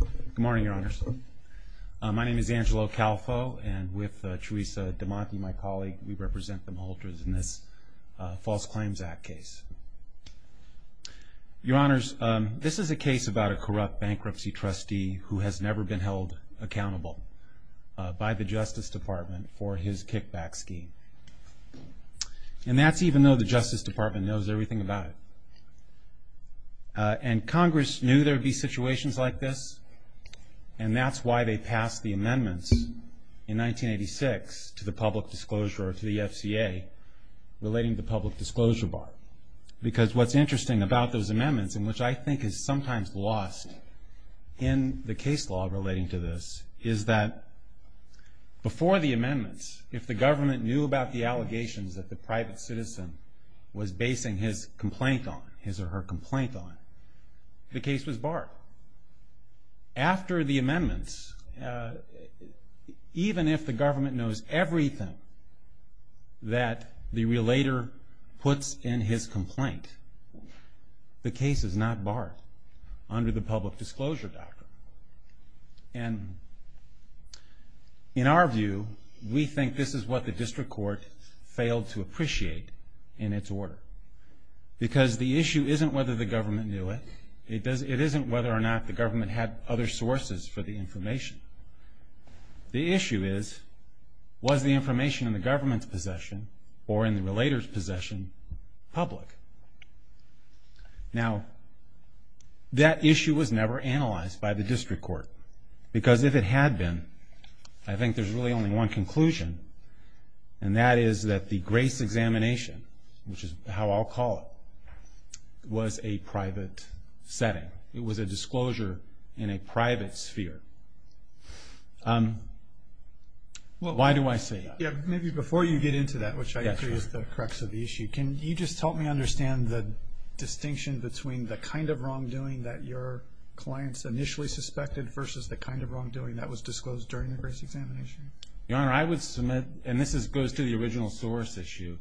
Good morning, Your Honors. My name is Angelo Calfo, and with Teresa DeMonte, my colleague, we represent the Malhotras in this False Claims Act case. Your Honors, this is a case about a corrupt bankruptcy trustee who has never been held accountable by the Justice Department for his kickback scheme. And that's even though the Justice Department knows everything about it. And Congress knew there would be situations like this, and that's why they passed the amendments in 1986 to the public disclosure or to the FCA relating to the public disclosure bar. Because what's interesting about those amendments, and which I think is sometimes lost in the case law relating to this, is that before the amendments, if the government knew about the allegations that the private citizen was basing his complaint on, his or her complaint on, the case was barred. After the amendments, even if the government knows everything that the relator puts in his complaint, the case is not barred under the public disclosure doctrine. And in our view, we think this is what the district court failed to appreciate in its order. Because the issue isn't whether the government knew it. It isn't whether or not the government had other sources for the information. The issue is, was the information in the government's possession or in the relator's possession public? Now, that issue was never analyzed by the district court. Because if it had been, I think there's really only one conclusion, and that is that the grace examination, which is how I'll call it, was a private setting. It was a disclosure in a private sphere. Why do I say that? Yeah, maybe before you get into that, which I agree is the crux of the issue, can you just help me understand the distinction between the kind of wrongdoing that your clients initially suspected versus the kind of wrongdoing that was disclosed during the grace examination? Your Honor, I would submit, and this goes to the original source issue,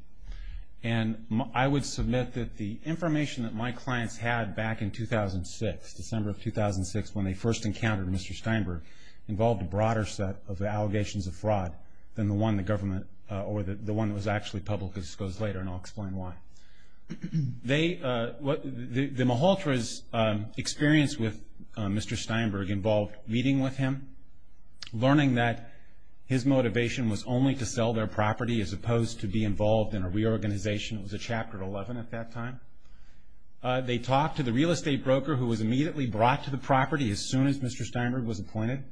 and I would submit that the information that my clients had back in 2006, December of 2006, when they first encountered Mr. Steinberg, involved a broader set of allegations of fraud than the one the government or the one that was actually publicly disclosed later, and I'll explain why. The Malhotra's experience with Mr. Steinberg involved meeting with him, learning that his motivation was only to sell their property as opposed to be involved in a reorganization. It was a Chapter 11 at that time. They talked to the real estate broker who was immediately brought to the property as soon as Mr. Steinberg was appointed.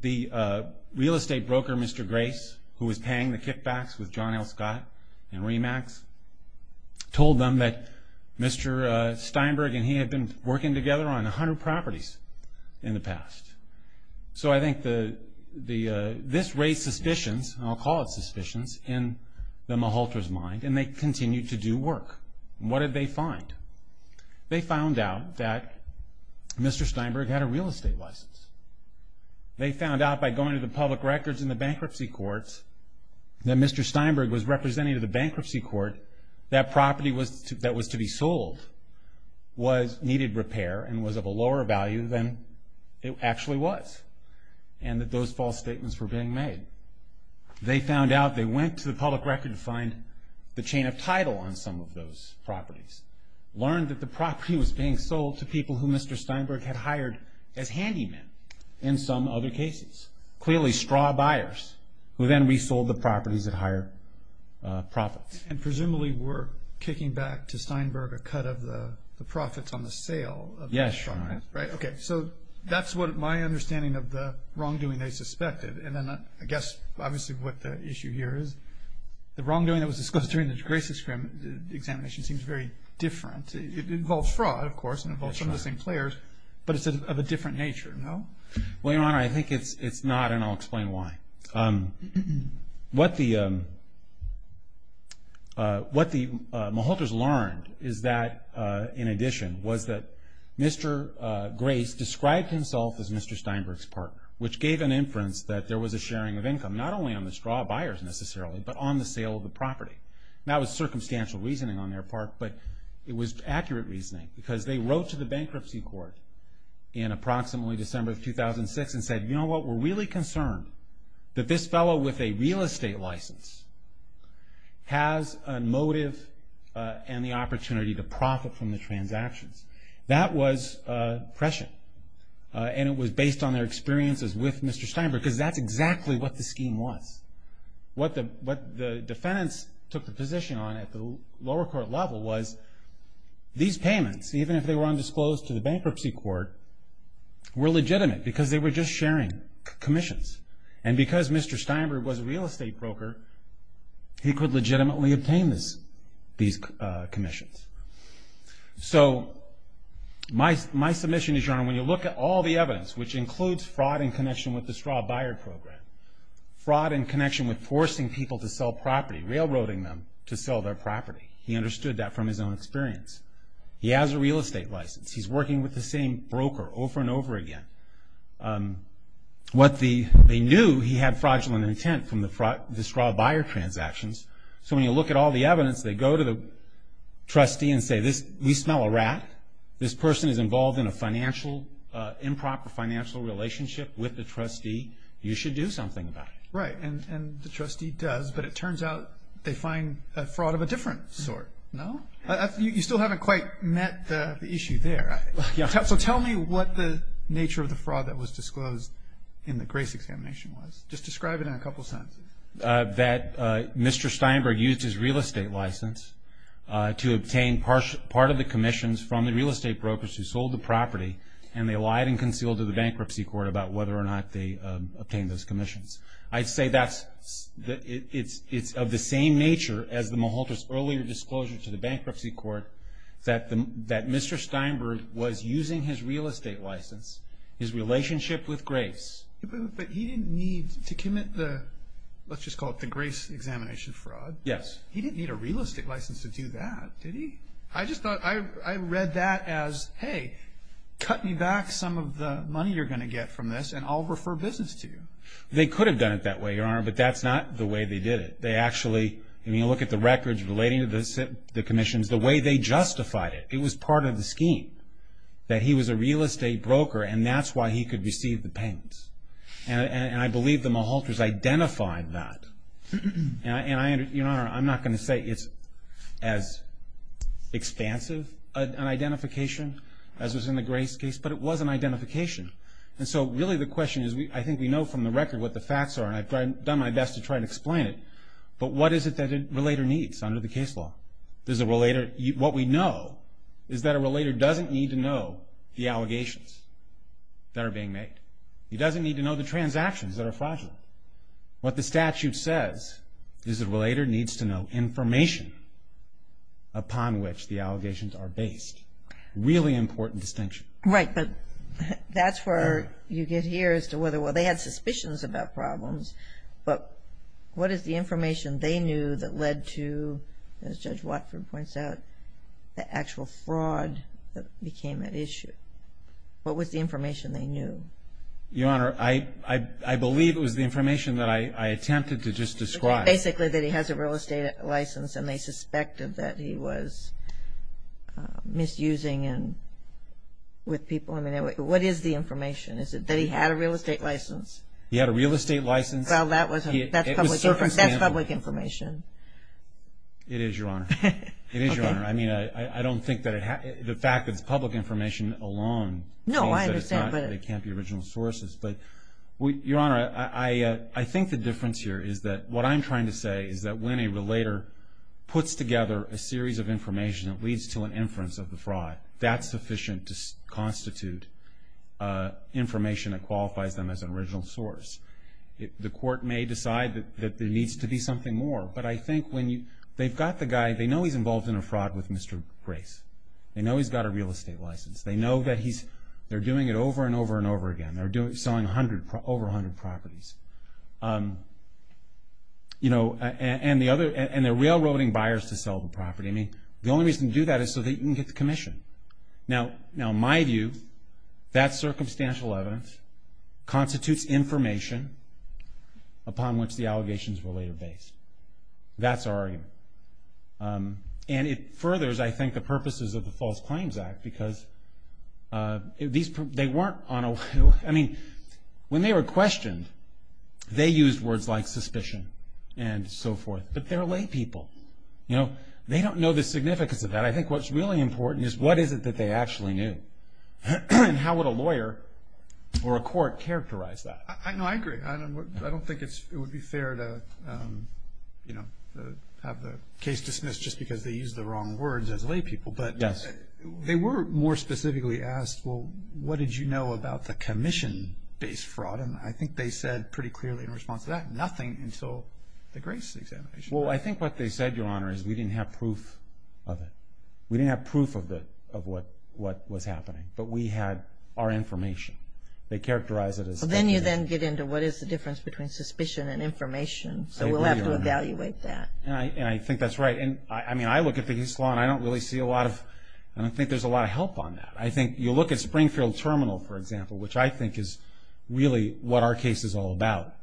The real estate broker, Mr. Grace, who was paying the kickbacks with John L. Scott and Remax, told them that Mr. Steinberg and he had been working together on 100 properties in the past. So I think this raised suspicions, and I'll call it suspicions, in the Malhotra's mind, and they continued to do work. What did they find? They found out that Mr. Steinberg had a real estate license. They found out by going to the public records in the bankruptcy courts that Mr. Steinberg was representative of the bankruptcy court, that property that was to be sold needed repair and was of a lower value than it actually was, and that those false statements were being made. They found out, they went to the public record to find the chain of title on some of those properties, learned that the property was being sold to people who Mr. Steinberg had hired as handymen in some other cases, clearly straw buyers who then resold the properties at higher profits. And presumably were kicking back to Steinberg a cut of the profits on the sale of the straw, right? Okay. So that's what my understanding of the wrongdoing they suspected, and then I guess obviously what the issue here is, the wrongdoing that was discussed during the Gray's Examination seems very different. It involves fraud, of course, and involves some of the same players, but it's of a different nature, no? Well, Your Honor, I think it's not, and I'll explain why. What the Malhotras learned is that, in addition, was that Mr. Gray's described himself as Mr. Steinberg's partner, which gave an inference that there was a sharing of income, not only on the straw buyers necessarily, but on the sale of the property. That was circumstantial reasoning on their part, but it was accurate reasoning, because they wrote to the bankruptcy court in approximately December of 2006 and said, you know what, we're really concerned that this fellow with a real estate license has a motive and the opportunity to profit from the transactions. That was prescient, and it was based on their experiences with Mr. Steinberg, because that's exactly what the scheme was. What the defendants took the position on at the lower court level was these payments, even if they were undisclosed to the bankruptcy court, were legitimate, because they were just sharing commissions. And because Mr. Steinberg was a real estate broker, he could legitimately obtain these commissions. So my submission is, Your Honor, when you look at all the evidence, which includes fraud in connection with the straw buyer program, fraud in connection with forcing people to sell property, railroading them to sell their property, he understood that from his own experience. He has a real estate license. He's working with the same broker over and over again. What they knew, he had fraudulent intent from the straw buyer transactions. So when you look at all the evidence, they go to the trustee and say, we smell a rat. This person is involved in a financial, improper financial relationship with the trustee. You should do something about it. Right, and the trustee does, but it turns out they find a fraud of a different sort, no? You still haven't quite met the issue there. Yeah. So tell me what the nature of the fraud that was disclosed in the grace examination was. Just describe it in a couple sentences. That Mr. Steinberg used his real estate license to obtain part of the commissions from the real estate brokers who sold the property, and they lied and concealed to the bankruptcy court about whether or not they obtained those commissions. I'd say that it's of the same nature as the Mahalter's earlier disclosure to the bankruptcy court that Mr. Steinberg was using his real estate license, his relationship with grace. But he didn't need to commit the, let's just call it the grace examination fraud. Yes. He didn't need a real estate license to do that, did he? I just thought, I read that as, hey, cut me back some of the money you're going to get from this, and I'll refer business to you. They could have done it that way, Your Honor, but that's not the way they did it. They actually, I mean, look at the records relating to the commissions, the way they justified it. It was part of the scheme that he was a real estate broker, and that's why he could receive the payments. And I believe the Mahalter's identified that. And, Your Honor, I'm not going to say it's as expansive an identification as was in the grace case, but it was an identification. And so really the question is, I think we know from the record what the facts are, and I've done my best to try and explain it, but what is it that a relator needs under the case law? What we know is that a relator doesn't need to know the allegations that are being made. He doesn't need to know the transactions that are fraudulent. What the statute says is the relator needs to know information upon which the allegations are based. Really important distinction. Right, but that's where you get here as to whether, well, they had suspicions about problems, but what is the information they knew that led to, as Judge Watford points out, the actual fraud that became at issue? What was the information they knew? Your Honor, I believe it was the information that I attempted to just describe. Basically that he has a real estate license and they suspected that he was misusing with people. I mean, what is the information? Is it that he had a real estate license? He had a real estate license? Well, that's public information. It is, Your Honor. It is, Your Honor. I mean, I don't think that the fact that it's public information alone means that it can't be original sources. But, Your Honor, I think the difference here is that what I'm trying to say is that when a relator puts together a series of information that leads to an inference of the fraud, that's sufficient to constitute information that qualifies them as an original source. The court may decide that there needs to be something more, but I think when you, they've got the guy, they know he's involved in a fraud with Mr. Grace. They know he's got a real estate license. They know that he's, they're doing it over and over and over again. They're selling over 100 properties. You know, and they're railroading buyers to sell the property. I mean, the only reason to do that is so they can get the commission. Now, my view, that circumstantial evidence constitutes information upon which the allegations were later based. That's our argument. And it furthers, I think, the purposes of the False Claims Act because these, they weren't on a, I mean, when they were questioned, they used words like suspicion and so forth. But they're lay people. You know, they don't know the significance of that. I think what's really important is what is it that they actually knew. And how would a lawyer or a court characterize that? No, I agree. I don't think it would be fair to, you know, have the case dismissed just because they used the wrong words as lay people. But they were more specifically asked, well, what did you know about the commission-based fraud? And I think they said pretty clearly in response to that, nothing until the Grace examination. Well, I think what they said, Your Honor, is we didn't have proof of it. We didn't have proof of what was happening. But we had our information. They characterized it as. Then you then get into what is the difference between suspicion and information. So we'll have to evaluate that. And I think that's right. And, I mean, I look at the case law and I don't really see a lot of, I don't think there's a lot of help on that. I think you look at Springfield Terminal, for example, which I think is really what our case is all about.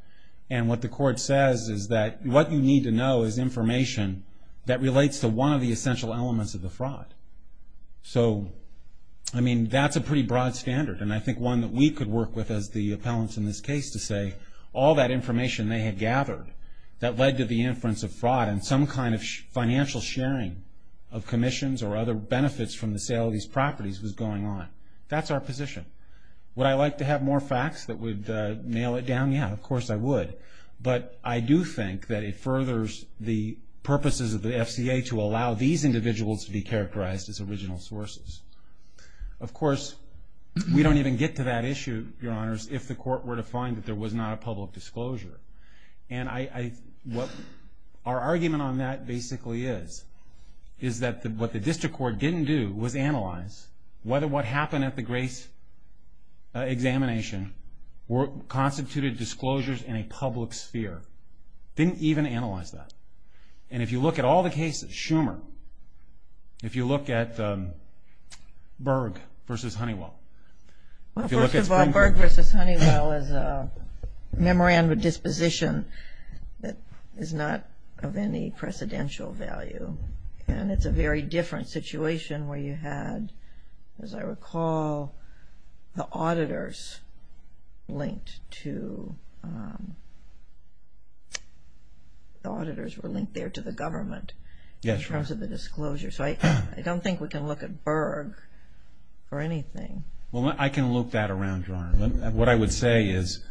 And what the court says is that what you need to know is information that relates to one of the essential elements of the fraud. So, I mean, that's a pretty broad standard. And I think one that we could work with as the appellants in this case to say all that information they had gathered that led to the inference of fraud and some kind of financial sharing of commissions or other benefits from the sale of these properties was going on. That's our position. Would I like to have more facts that would nail it down? Yeah, of course I would. But I do think that it furthers the purposes of the FCA to allow these individuals to be characterized as original sources. Of course, we don't even get to that issue, Your Honors, if the court were to find that there was not a public disclosure. And our argument on that basically is that what the district court didn't do was analyze whether what happened at the Grace examination constituted disclosures in a public sphere. Didn't even analyze that. And if you look at all the cases, Schumer, if you look at Berg v. Honeywell. Well, first of all, Berg v. Honeywell is a memorandum of disposition that is not of any precedential value. And it's a very different situation where you had, as I recall, the auditors linked to the government in terms of the disclosure. So I don't think we can look at Berg for anything. Well, I can look that around, Your Honor. What I would say is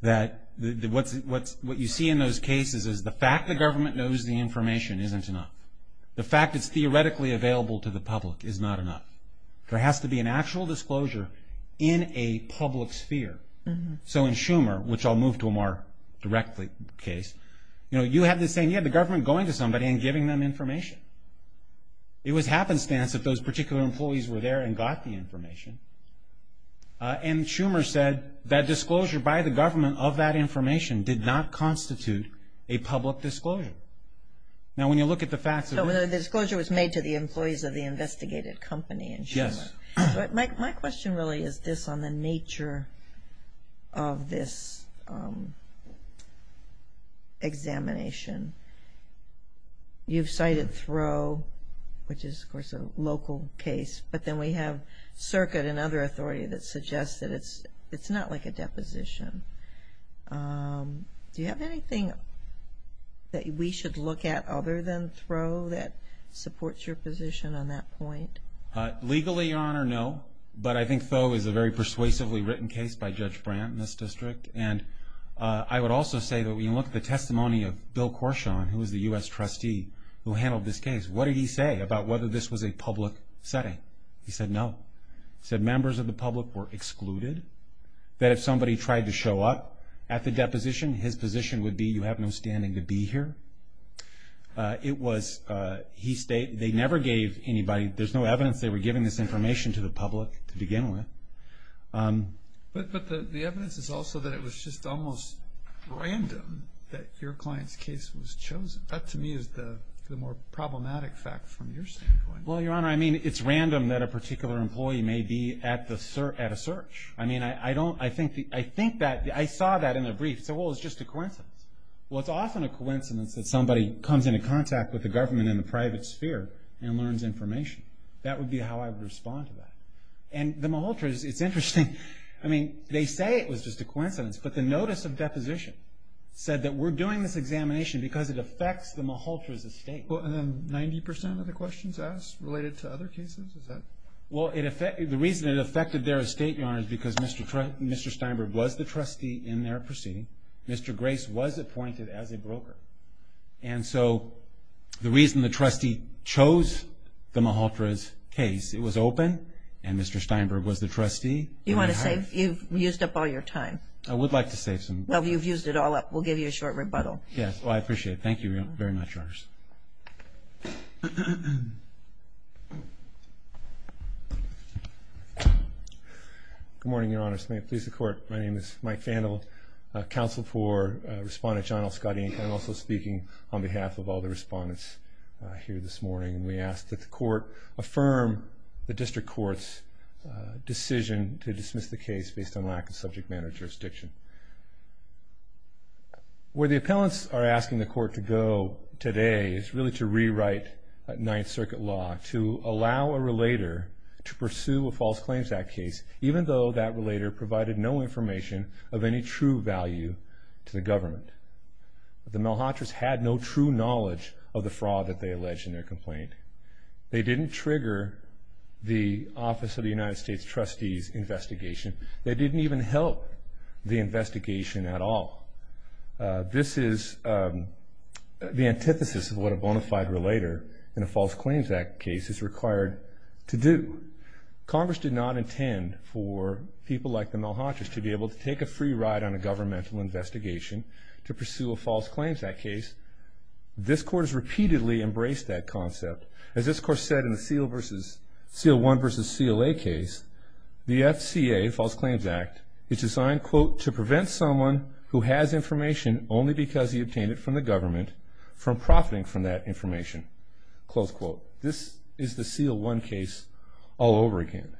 that what you see in those cases is the fact the government knows the information isn't enough. The fact it's theoretically available to the public is not enough. There has to be an actual disclosure in a public sphere. So in Schumer, which I'll move to a more direct case, you know, you have this saying, you have the government going to somebody and giving them information. It was happenstance that those particular employees were there and got the information. And Schumer said that disclosure by the government of that information did not constitute a public disclosure. Now, when you look at the facts of it. So the disclosure was made to the employees of the investigated company in Schumer. Yes. My question really is this on the nature of this examination. You've cited Throe, which is, of course, a local case. But then we have Circuit and other authority that suggests that it's not like a deposition. Do you have anything that we should look at other than Throe that supports your position on that point? Legally, Your Honor, no. But I think Thoe is a very persuasively written case by Judge Brandt in this district. And I would also say that when you look at the testimony of Bill Corshawn, who was the U.S. trustee who handled this case, what did he say about whether this was a public setting? He said no. He said members of the public were excluded. That if somebody tried to show up at the deposition, his position would be you have no standing to be here. It was he stated they never gave anybody, there's no evidence they were giving this information to the public to begin with. But the evidence is also that it was just almost random that your client's case was chosen. That, to me, is the more problematic fact from your standpoint. Well, Your Honor, I mean, it's random that a particular employee may be at a search. I mean, I don't, I think that, I saw that in a brief. I said, well, it's just a coincidence. Well, it's often a coincidence that somebody comes into contact with the government in the private sphere and learns information. That would be how I would respond to that. And the Malhotra's, it's interesting. I mean, they say it was just a coincidence. But the notice of deposition said that we're doing this examination because it affects the Malhotra's estate. Well, and then 90% of the questions asked related to other cases? Is that? Well, the reason it affected their estate, Your Honor, is because Mr. Steinberg was the trustee in their proceeding. Mr. Grace was appointed as a broker. And so the reason the trustee chose the Malhotra's case, it was open, and Mr. Steinberg was the trustee. You want to save? You've used up all your time. I would like to save some. Well, you've used it all up. We'll give you a short rebuttal. Well, I appreciate it. Thank you very much, Your Honors. Good morning, Your Honors. May it please the Court. My name is Mike Fandel, counsel for Respondent John L. Scotty, and I'm also speaking on behalf of all the respondents here this morning. And we ask that the Court affirm the District Court's decision to dismiss the case based on lack of subject matter jurisdiction. Where the appellants are asking the Court to go today is really to rewrite Ninth Circuit law to allow a relator to pursue a False Claims Act case, even though that relator provided no information of any true value to the government. The Malhotras had no true knowledge of the fraud that they alleged in their complaint. They didn't trigger the Office of the United States Trustees investigation. They didn't even help the investigation at all. This is the antithesis of what a bona fide relator in a False Claims Act case is required to do. Congress did not intend for people like the Malhotras to be able to take a free ride on a governmental investigation to pursue a False Claims Act case. This Court has repeatedly embraced that concept. As this Court said in the CL1 versus CLA case, the FCA, False Claims Act, is designed, quote, to prevent someone who has information only because he obtained it from the government from profiting from that information. Close quote. This is the CL1 case all over again.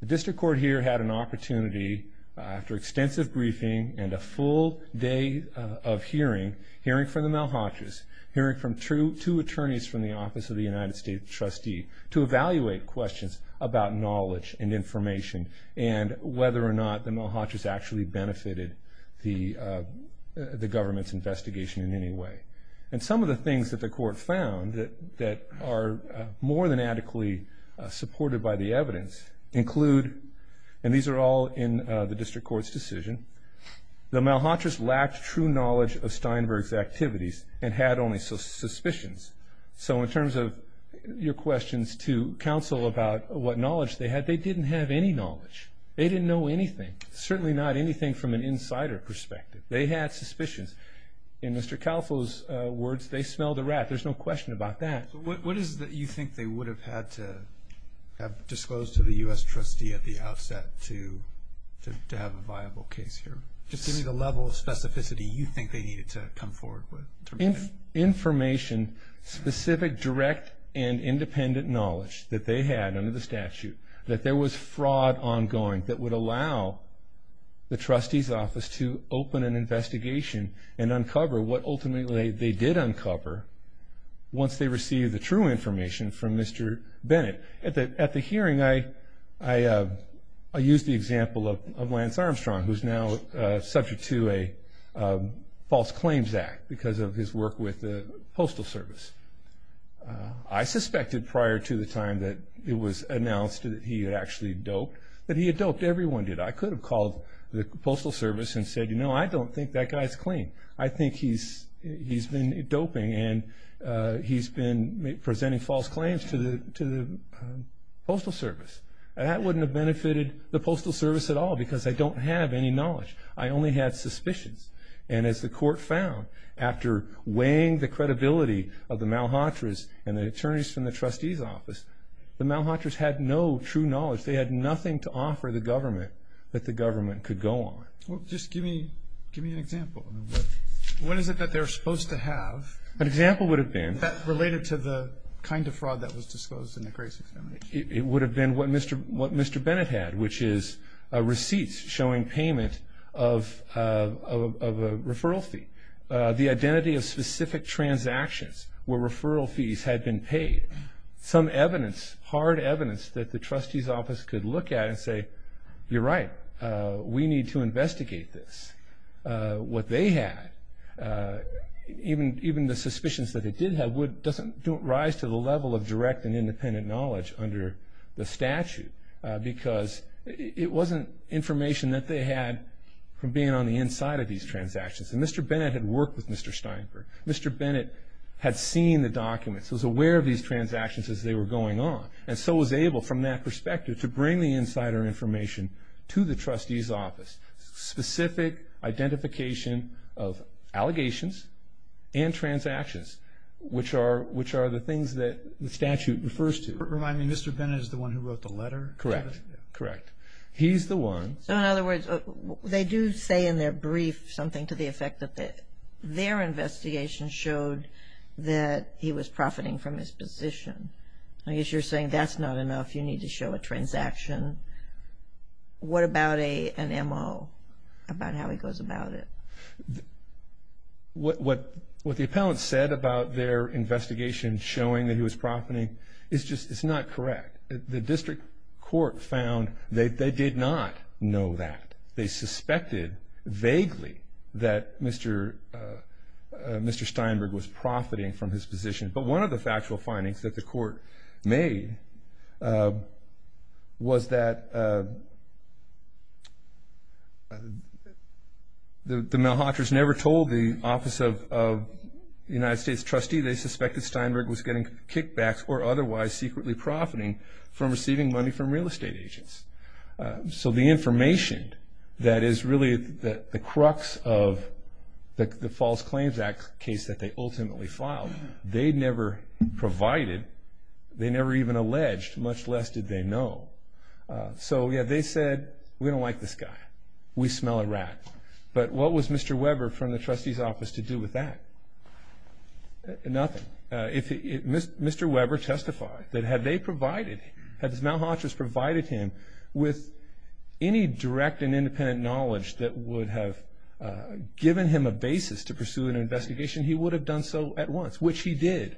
The District Court here had an opportunity, after extensive briefing and a full day of hearing, hearing from the Malhotras, hearing from two attorneys from the Office of the United States Trustee to evaluate questions about knowledge and information and whether or not the Malhotras actually benefited the government's investigation in any way. And some of the things that the Court found that are more than adequately supported by the evidence include, and these are all in the District Court's decision, the Malhotras lacked true knowledge of Steinberg's activities and had only suspicions. So in terms of your questions to counsel about what knowledge they had, they didn't have any knowledge. They didn't know anything, certainly not anything from an insider perspective. They had suspicions. In Mr. Kalfo's words, they smelled a rat. There's no question about that. What is it that you think they would have had to have disclosed to the U.S. Trustee at the outset to have a viable case here? Just give me the level of specificity you think they needed to come forward with. Information, specific, direct, and independent knowledge that they had under the statute, that there was fraud ongoing that would allow the Trustee's Office to open an investigation and uncover what ultimately they did uncover once they received the true information from Mr. Bennett. At the hearing, I used the example of Lance Armstrong, who's now subject to a false claims act because of his work with the Postal Service. I suspected prior to the time that it was announced that he had actually doped that he had doped. Everyone did. I could have called the Postal Service and said, you know, I don't think that guy's clean. I think he's been doping, and he's been presenting false claims to the Postal Service. That wouldn't have benefited the Postal Service at all because I don't have any knowledge. I only had suspicions. And as the court found, after weighing the credibility of the Malhotras and the attorneys from the Trustee's Office, the Malhotras had no true knowledge. They had nothing to offer the government that the government could go on. Just give me an example. What is it that they're supposed to have? An example would have been? Related to the kind of fraud that was disclosed in the Grace Examination. It would have been what Mr. Bennett had, which is receipts showing payment of a referral fee. The identity of specific transactions where referral fees had been paid. Some evidence, hard evidence, that the Trustee's Office could look at and say, you're right. We need to investigate this. What they had, even the suspicions that it did have, doesn't rise to the level of direct and independent knowledge under the statute because it wasn't information that they had from being on the inside of these transactions. And Mr. Bennett had worked with Mr. Steinberg. Mr. Bennett had seen the documents, was aware of these transactions as they were going on, and so was able, from that perspective, to bring the insider information to the Trustee's Office. Specific identification of allegations and transactions, which are the things that the statute refers to. Remind me, Mr. Bennett is the one who wrote the letter? Correct. Correct. He's the one. So, in other words, they do say in their brief something to the effect that their investigation showed that he was profiting from his position. I guess you're saying that's not enough. You need to show a transaction. What about an M.O.? About how he goes about it. What the appellants said about their investigation showing that he was profiting is not correct. The district court found they did not know that. They suspected, vaguely, that Mr. Steinberg was profiting from his position. But one of the factual findings that the court made was that the Malhotras never told the Office of the United States Trustee they suspected Steinberg was getting kickbacks or otherwise secretly profiting from receiving money from real estate agents. So the information that is really the crux of the False Claims Act case that they ultimately filed, they never provided, they never even alleged, much less did they know. So, yeah, they said, we don't like this guy. We smell a rat. But what was Mr. Weber from the trustee's office to do with that? Nothing. If Mr. Weber testified that had they provided, had the Malhotras provided him with any direct and independent knowledge that would have given him a basis to pursue an investigation, he would have done so at once, which he did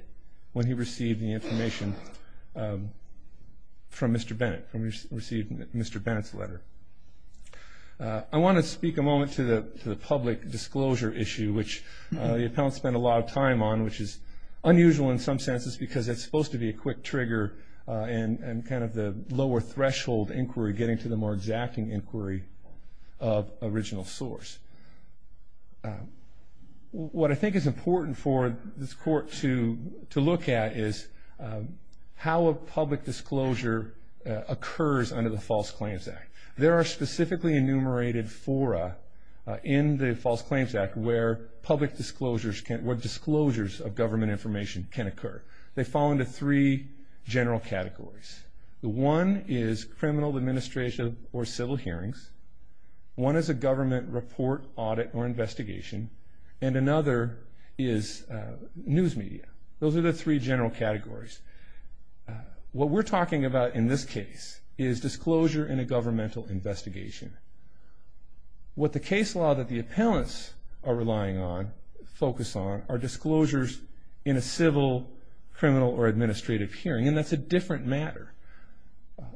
when he received the information from Mr. Bennett, when he received Mr. Bennett's letter. I want to speak a moment to the public disclosure issue, which the appellants spent a lot of time on, which is unusual in some senses because it's supposed to be a quick trigger and kind of the lower threshold inquiry getting to the more exacting inquiry of original source. What I think is important for this court to look at is how a public disclosure occurs under the False Claims Act. There are specifically enumerated fora in the False Claims Act where public disclosures, where disclosures of government information can occur. They fall into three general categories. One is criminal administration or civil hearings. One is a government report, audit, or investigation. And another is news media. Those are the three general categories. What we're talking about in this case is disclosure in a governmental investigation. What the case law that the appellants are relying on, focus on, are disclosures in a civil, criminal, or administrative hearing, and that's a different matter.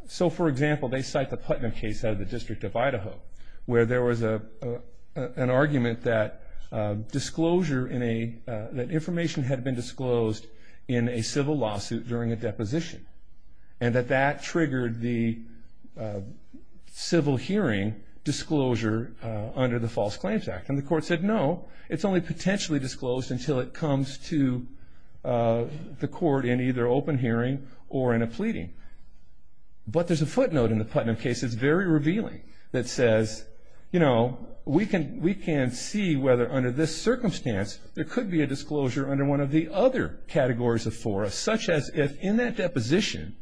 So, for example, they cite the Putnam case out of the District of Idaho where there was an argument that information had been disclosed in a civil lawsuit during a deposition and that that triggered the civil hearing disclosure under the False Claims Act. And the court said, no, it's only potentially disclosed until it comes to the court in either open hearing or in a pleading. But there's a footnote in the Putnam case that's very revealing that says, you know, we can see whether under this circumstance there could be a disclosure under one of the other categories of fora, such as if in that deposition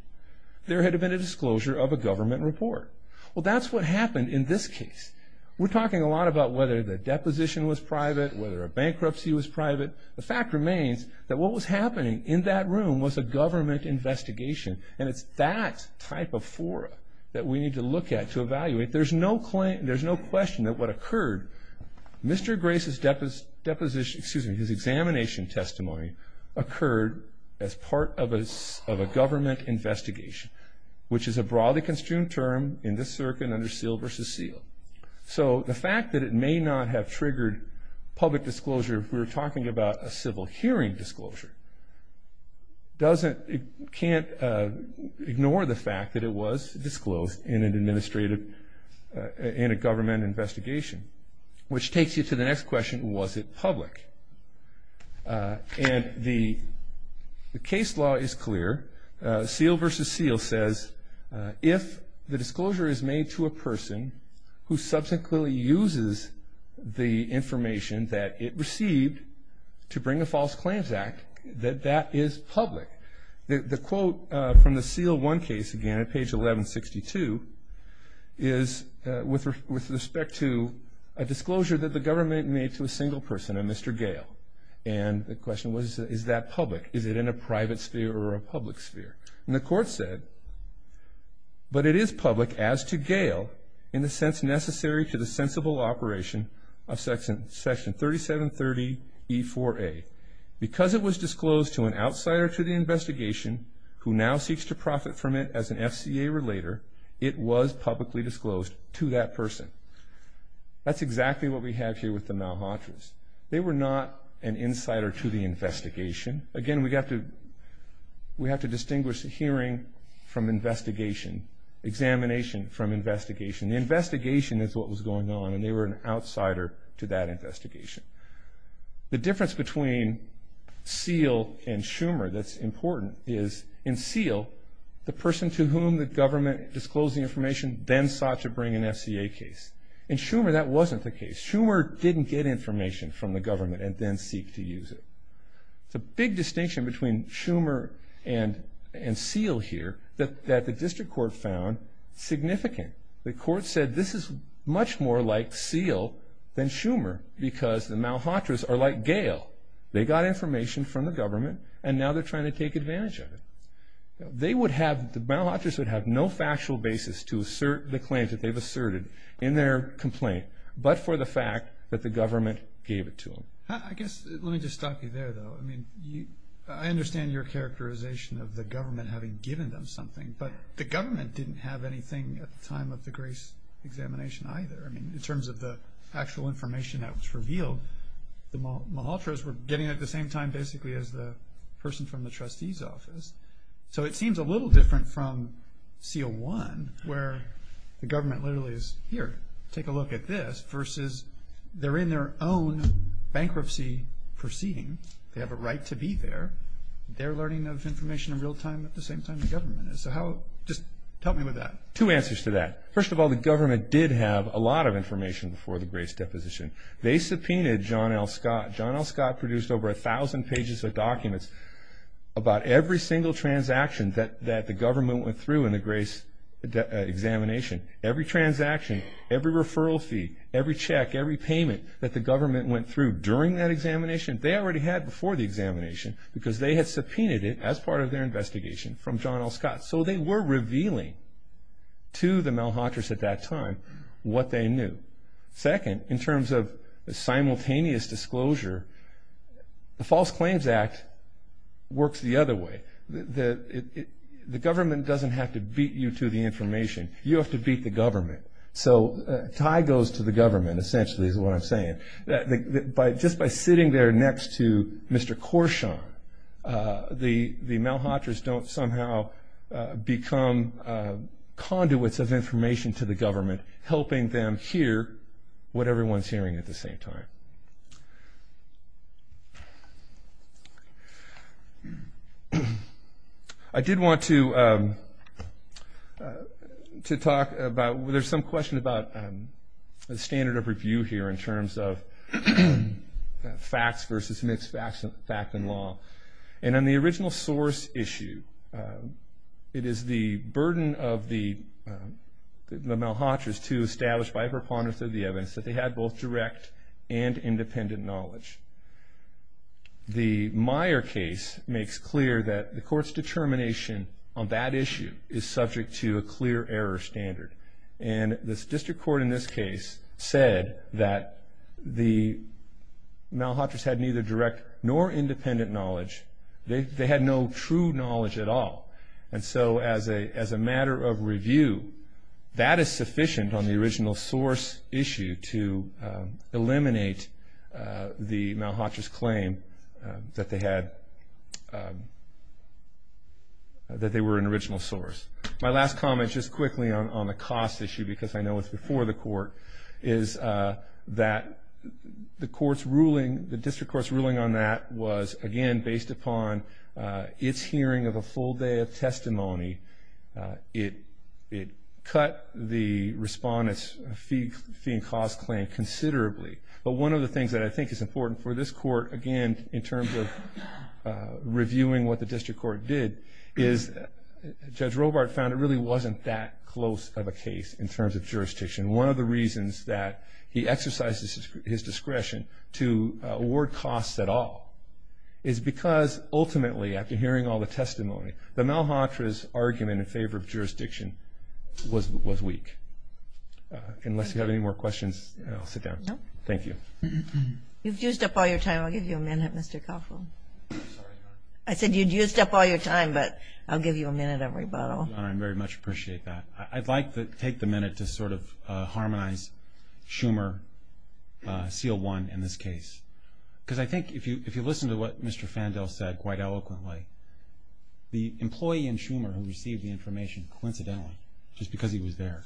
there had been a disclosure of a government report. Well, that's what happened in this case. We're talking a lot about whether the deposition was private, whether a bankruptcy was private. The fact remains that what was happening in that room was a government investigation, and it's that type of fora that we need to look at to evaluate. There's no question that what occurred, Mr. Grace's deposition, excuse me, his examination testimony occurred as part of a government investigation, which is a broadly construed term in this circuit under seal versus seal. So the fact that it may not have triggered public disclosure if we were talking about a civil hearing disclosure doesn't, can't ignore the fact that it was disclosed in an administrative, in a government investigation, which takes you to the next question, was it public? And the case law is clear. Seal versus seal says if the disclosure is made to a person who subsequently uses the information that it received to bring a false claims act, that that is public. The quote from the seal one case, again, at page 1162, is with respect to a disclosure that the government made to a single person, a Mr. Gale. And the question was, is that public? Is it in a private sphere or a public sphere? And the court said, but it is public as to Gale in the sense necessary to the sensible operation of section 3730E4A. Because it was disclosed to an outsider to the investigation who now seeks to profit from it as an FCA relater, it was publicly disclosed to that person. That's exactly what we have here with the Malhotras. They were not an insider to the investigation. Again, we have to distinguish the hearing from investigation, examination from investigation. The investigation is what was going on, and they were an outsider to that investigation. The difference between Seale and Schumer that's important is in Seale, the person to whom the government disclosed the information then sought to bring an FCA case. In Schumer, that wasn't the case. Schumer didn't get information from the government and then seek to use it. It's a big distinction between Schumer and Seale here that the district court found significant. The court said this is much more like Seale than Schumer because the Malhotras are like Gale. They got information from the government, and now they're trying to take advantage of it. The Malhotras would have no factual basis to assert the claims that they've asserted in their complaint, but for the fact that the government gave it to them. I guess let me just stop you there, though. I mean, I understand your characterization of the government having given them something, but the government didn't have anything at the time of the Grace examination either. I mean, in terms of the actual information that was revealed, the Malhotras were getting it at the same time basically as the person from the trustee's office. So it seems a little different from Seale 1 where the government literally is, here, take a look at this, versus they're in their own bankruptcy proceeding. They have a right to be there. They're learning of information in real time at the same time the government is. So just help me with that. Two answers to that. First of all, the government did have a lot of information before the Grace deposition. They subpoenaed John L. Scott. John L. Scott produced over 1,000 pages of documents about every single transaction that the government went through in the Grace examination. Every transaction, every referral fee, every check, every payment that the government went through during that examination, they already had before the examination because they had subpoenaed it as part of their investigation from John L. Scott. So they were revealing to the Malhotras at that time what they knew. Second, in terms of simultaneous disclosure, the False Claims Act works the other way. The government doesn't have to beat you to the information. You have to beat the government. So a tie goes to the government essentially is what I'm saying. Just by sitting there next to Mr. Korshaw, the Malhotras don't somehow become conduits of information to the government, helping them hear what everyone's hearing at the same time. I did want to talk about, there's some question about the standard of review here in terms of facts versus mixed facts in law. And on the original source issue, it is the burden of the Malhotras to establish by preponderance of the evidence that they had both direct and independent knowledge. The Meyer case makes clear that the court's determination on that issue is subject to a clear error standard. And the district court in this case said that the Malhotras had neither direct nor independent knowledge. They had no true knowledge at all. And so as a matter of review, that is sufficient on the original source issue to eliminate the Malhotras' claim that they were an original source. My last comment just quickly on the cost issue, because I know it's before the court, is that the district court's ruling on that was, again, based upon its hearing of a full day of testimony. It cut the respondent's fee and cost claim considerably. But one of the things that I think is important for this court, again, in terms of reviewing what the district court did, is Judge Robart found it really wasn't that close of a case in terms of jurisdiction. One of the reasons that he exercises his discretion to award costs at all is because ultimately, after hearing all the testimony, the Malhotras' argument in favor of jurisdiction was weak. Unless you have any more questions, I'll sit down. No. Thank you. You've used up all your time. I'll give you a minute, Mr. Koffel. I said you'd used up all your time, but I'll give you a minute of rebuttal. I very much appreciate that. I'd like to take the minute to sort of harmonize Schumer, seal one in this case. Because I think if you listen to what Mr. Fandel said quite eloquently, the employee in Schumer who received the information, coincidentally, just because he was there,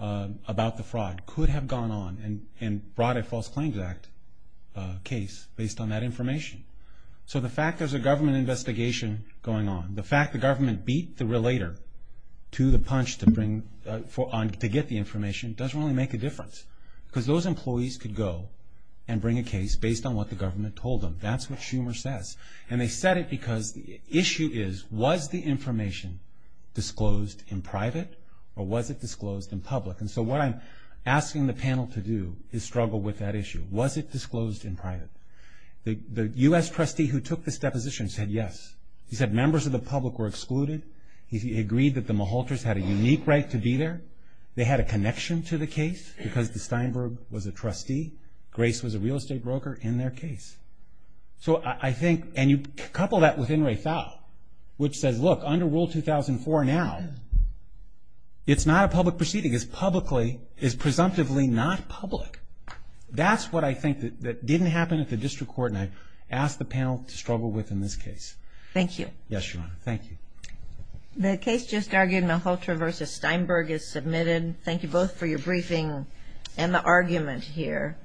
about the fraud, could have gone on and brought a False Claims Act case based on that information. So the fact there's a government investigation going on, the fact the government beat the relator to the punch to get the information, doesn't really make a difference. Because those employees could go and bring a case based on what the government told them. That's what Schumer says. And they said it because the issue is, was the information disclosed in private or was it disclosed in public? And so what I'm asking the panel to do is struggle with that issue. Was it disclosed in private? The U.S. trustee who took this deposition said yes. He said members of the public were excluded. He agreed that the Malhotras had a unique right to be there. They had a connection to the case because Steinberg was a trustee. Grace was a real estate broker in their case. So I think, and you couple that with In re Fal, which says, look, under Rule 2004 now, it's not a public proceeding. It's presumptively not public. That's what I think that didn't happen at the district court, and I ask the panel to struggle with in this case. Thank you. Yes, Your Honor. Thank you. The case just argued, Malhotra v. Steinberg, is submitted. Thank you both for your briefing and the argument here.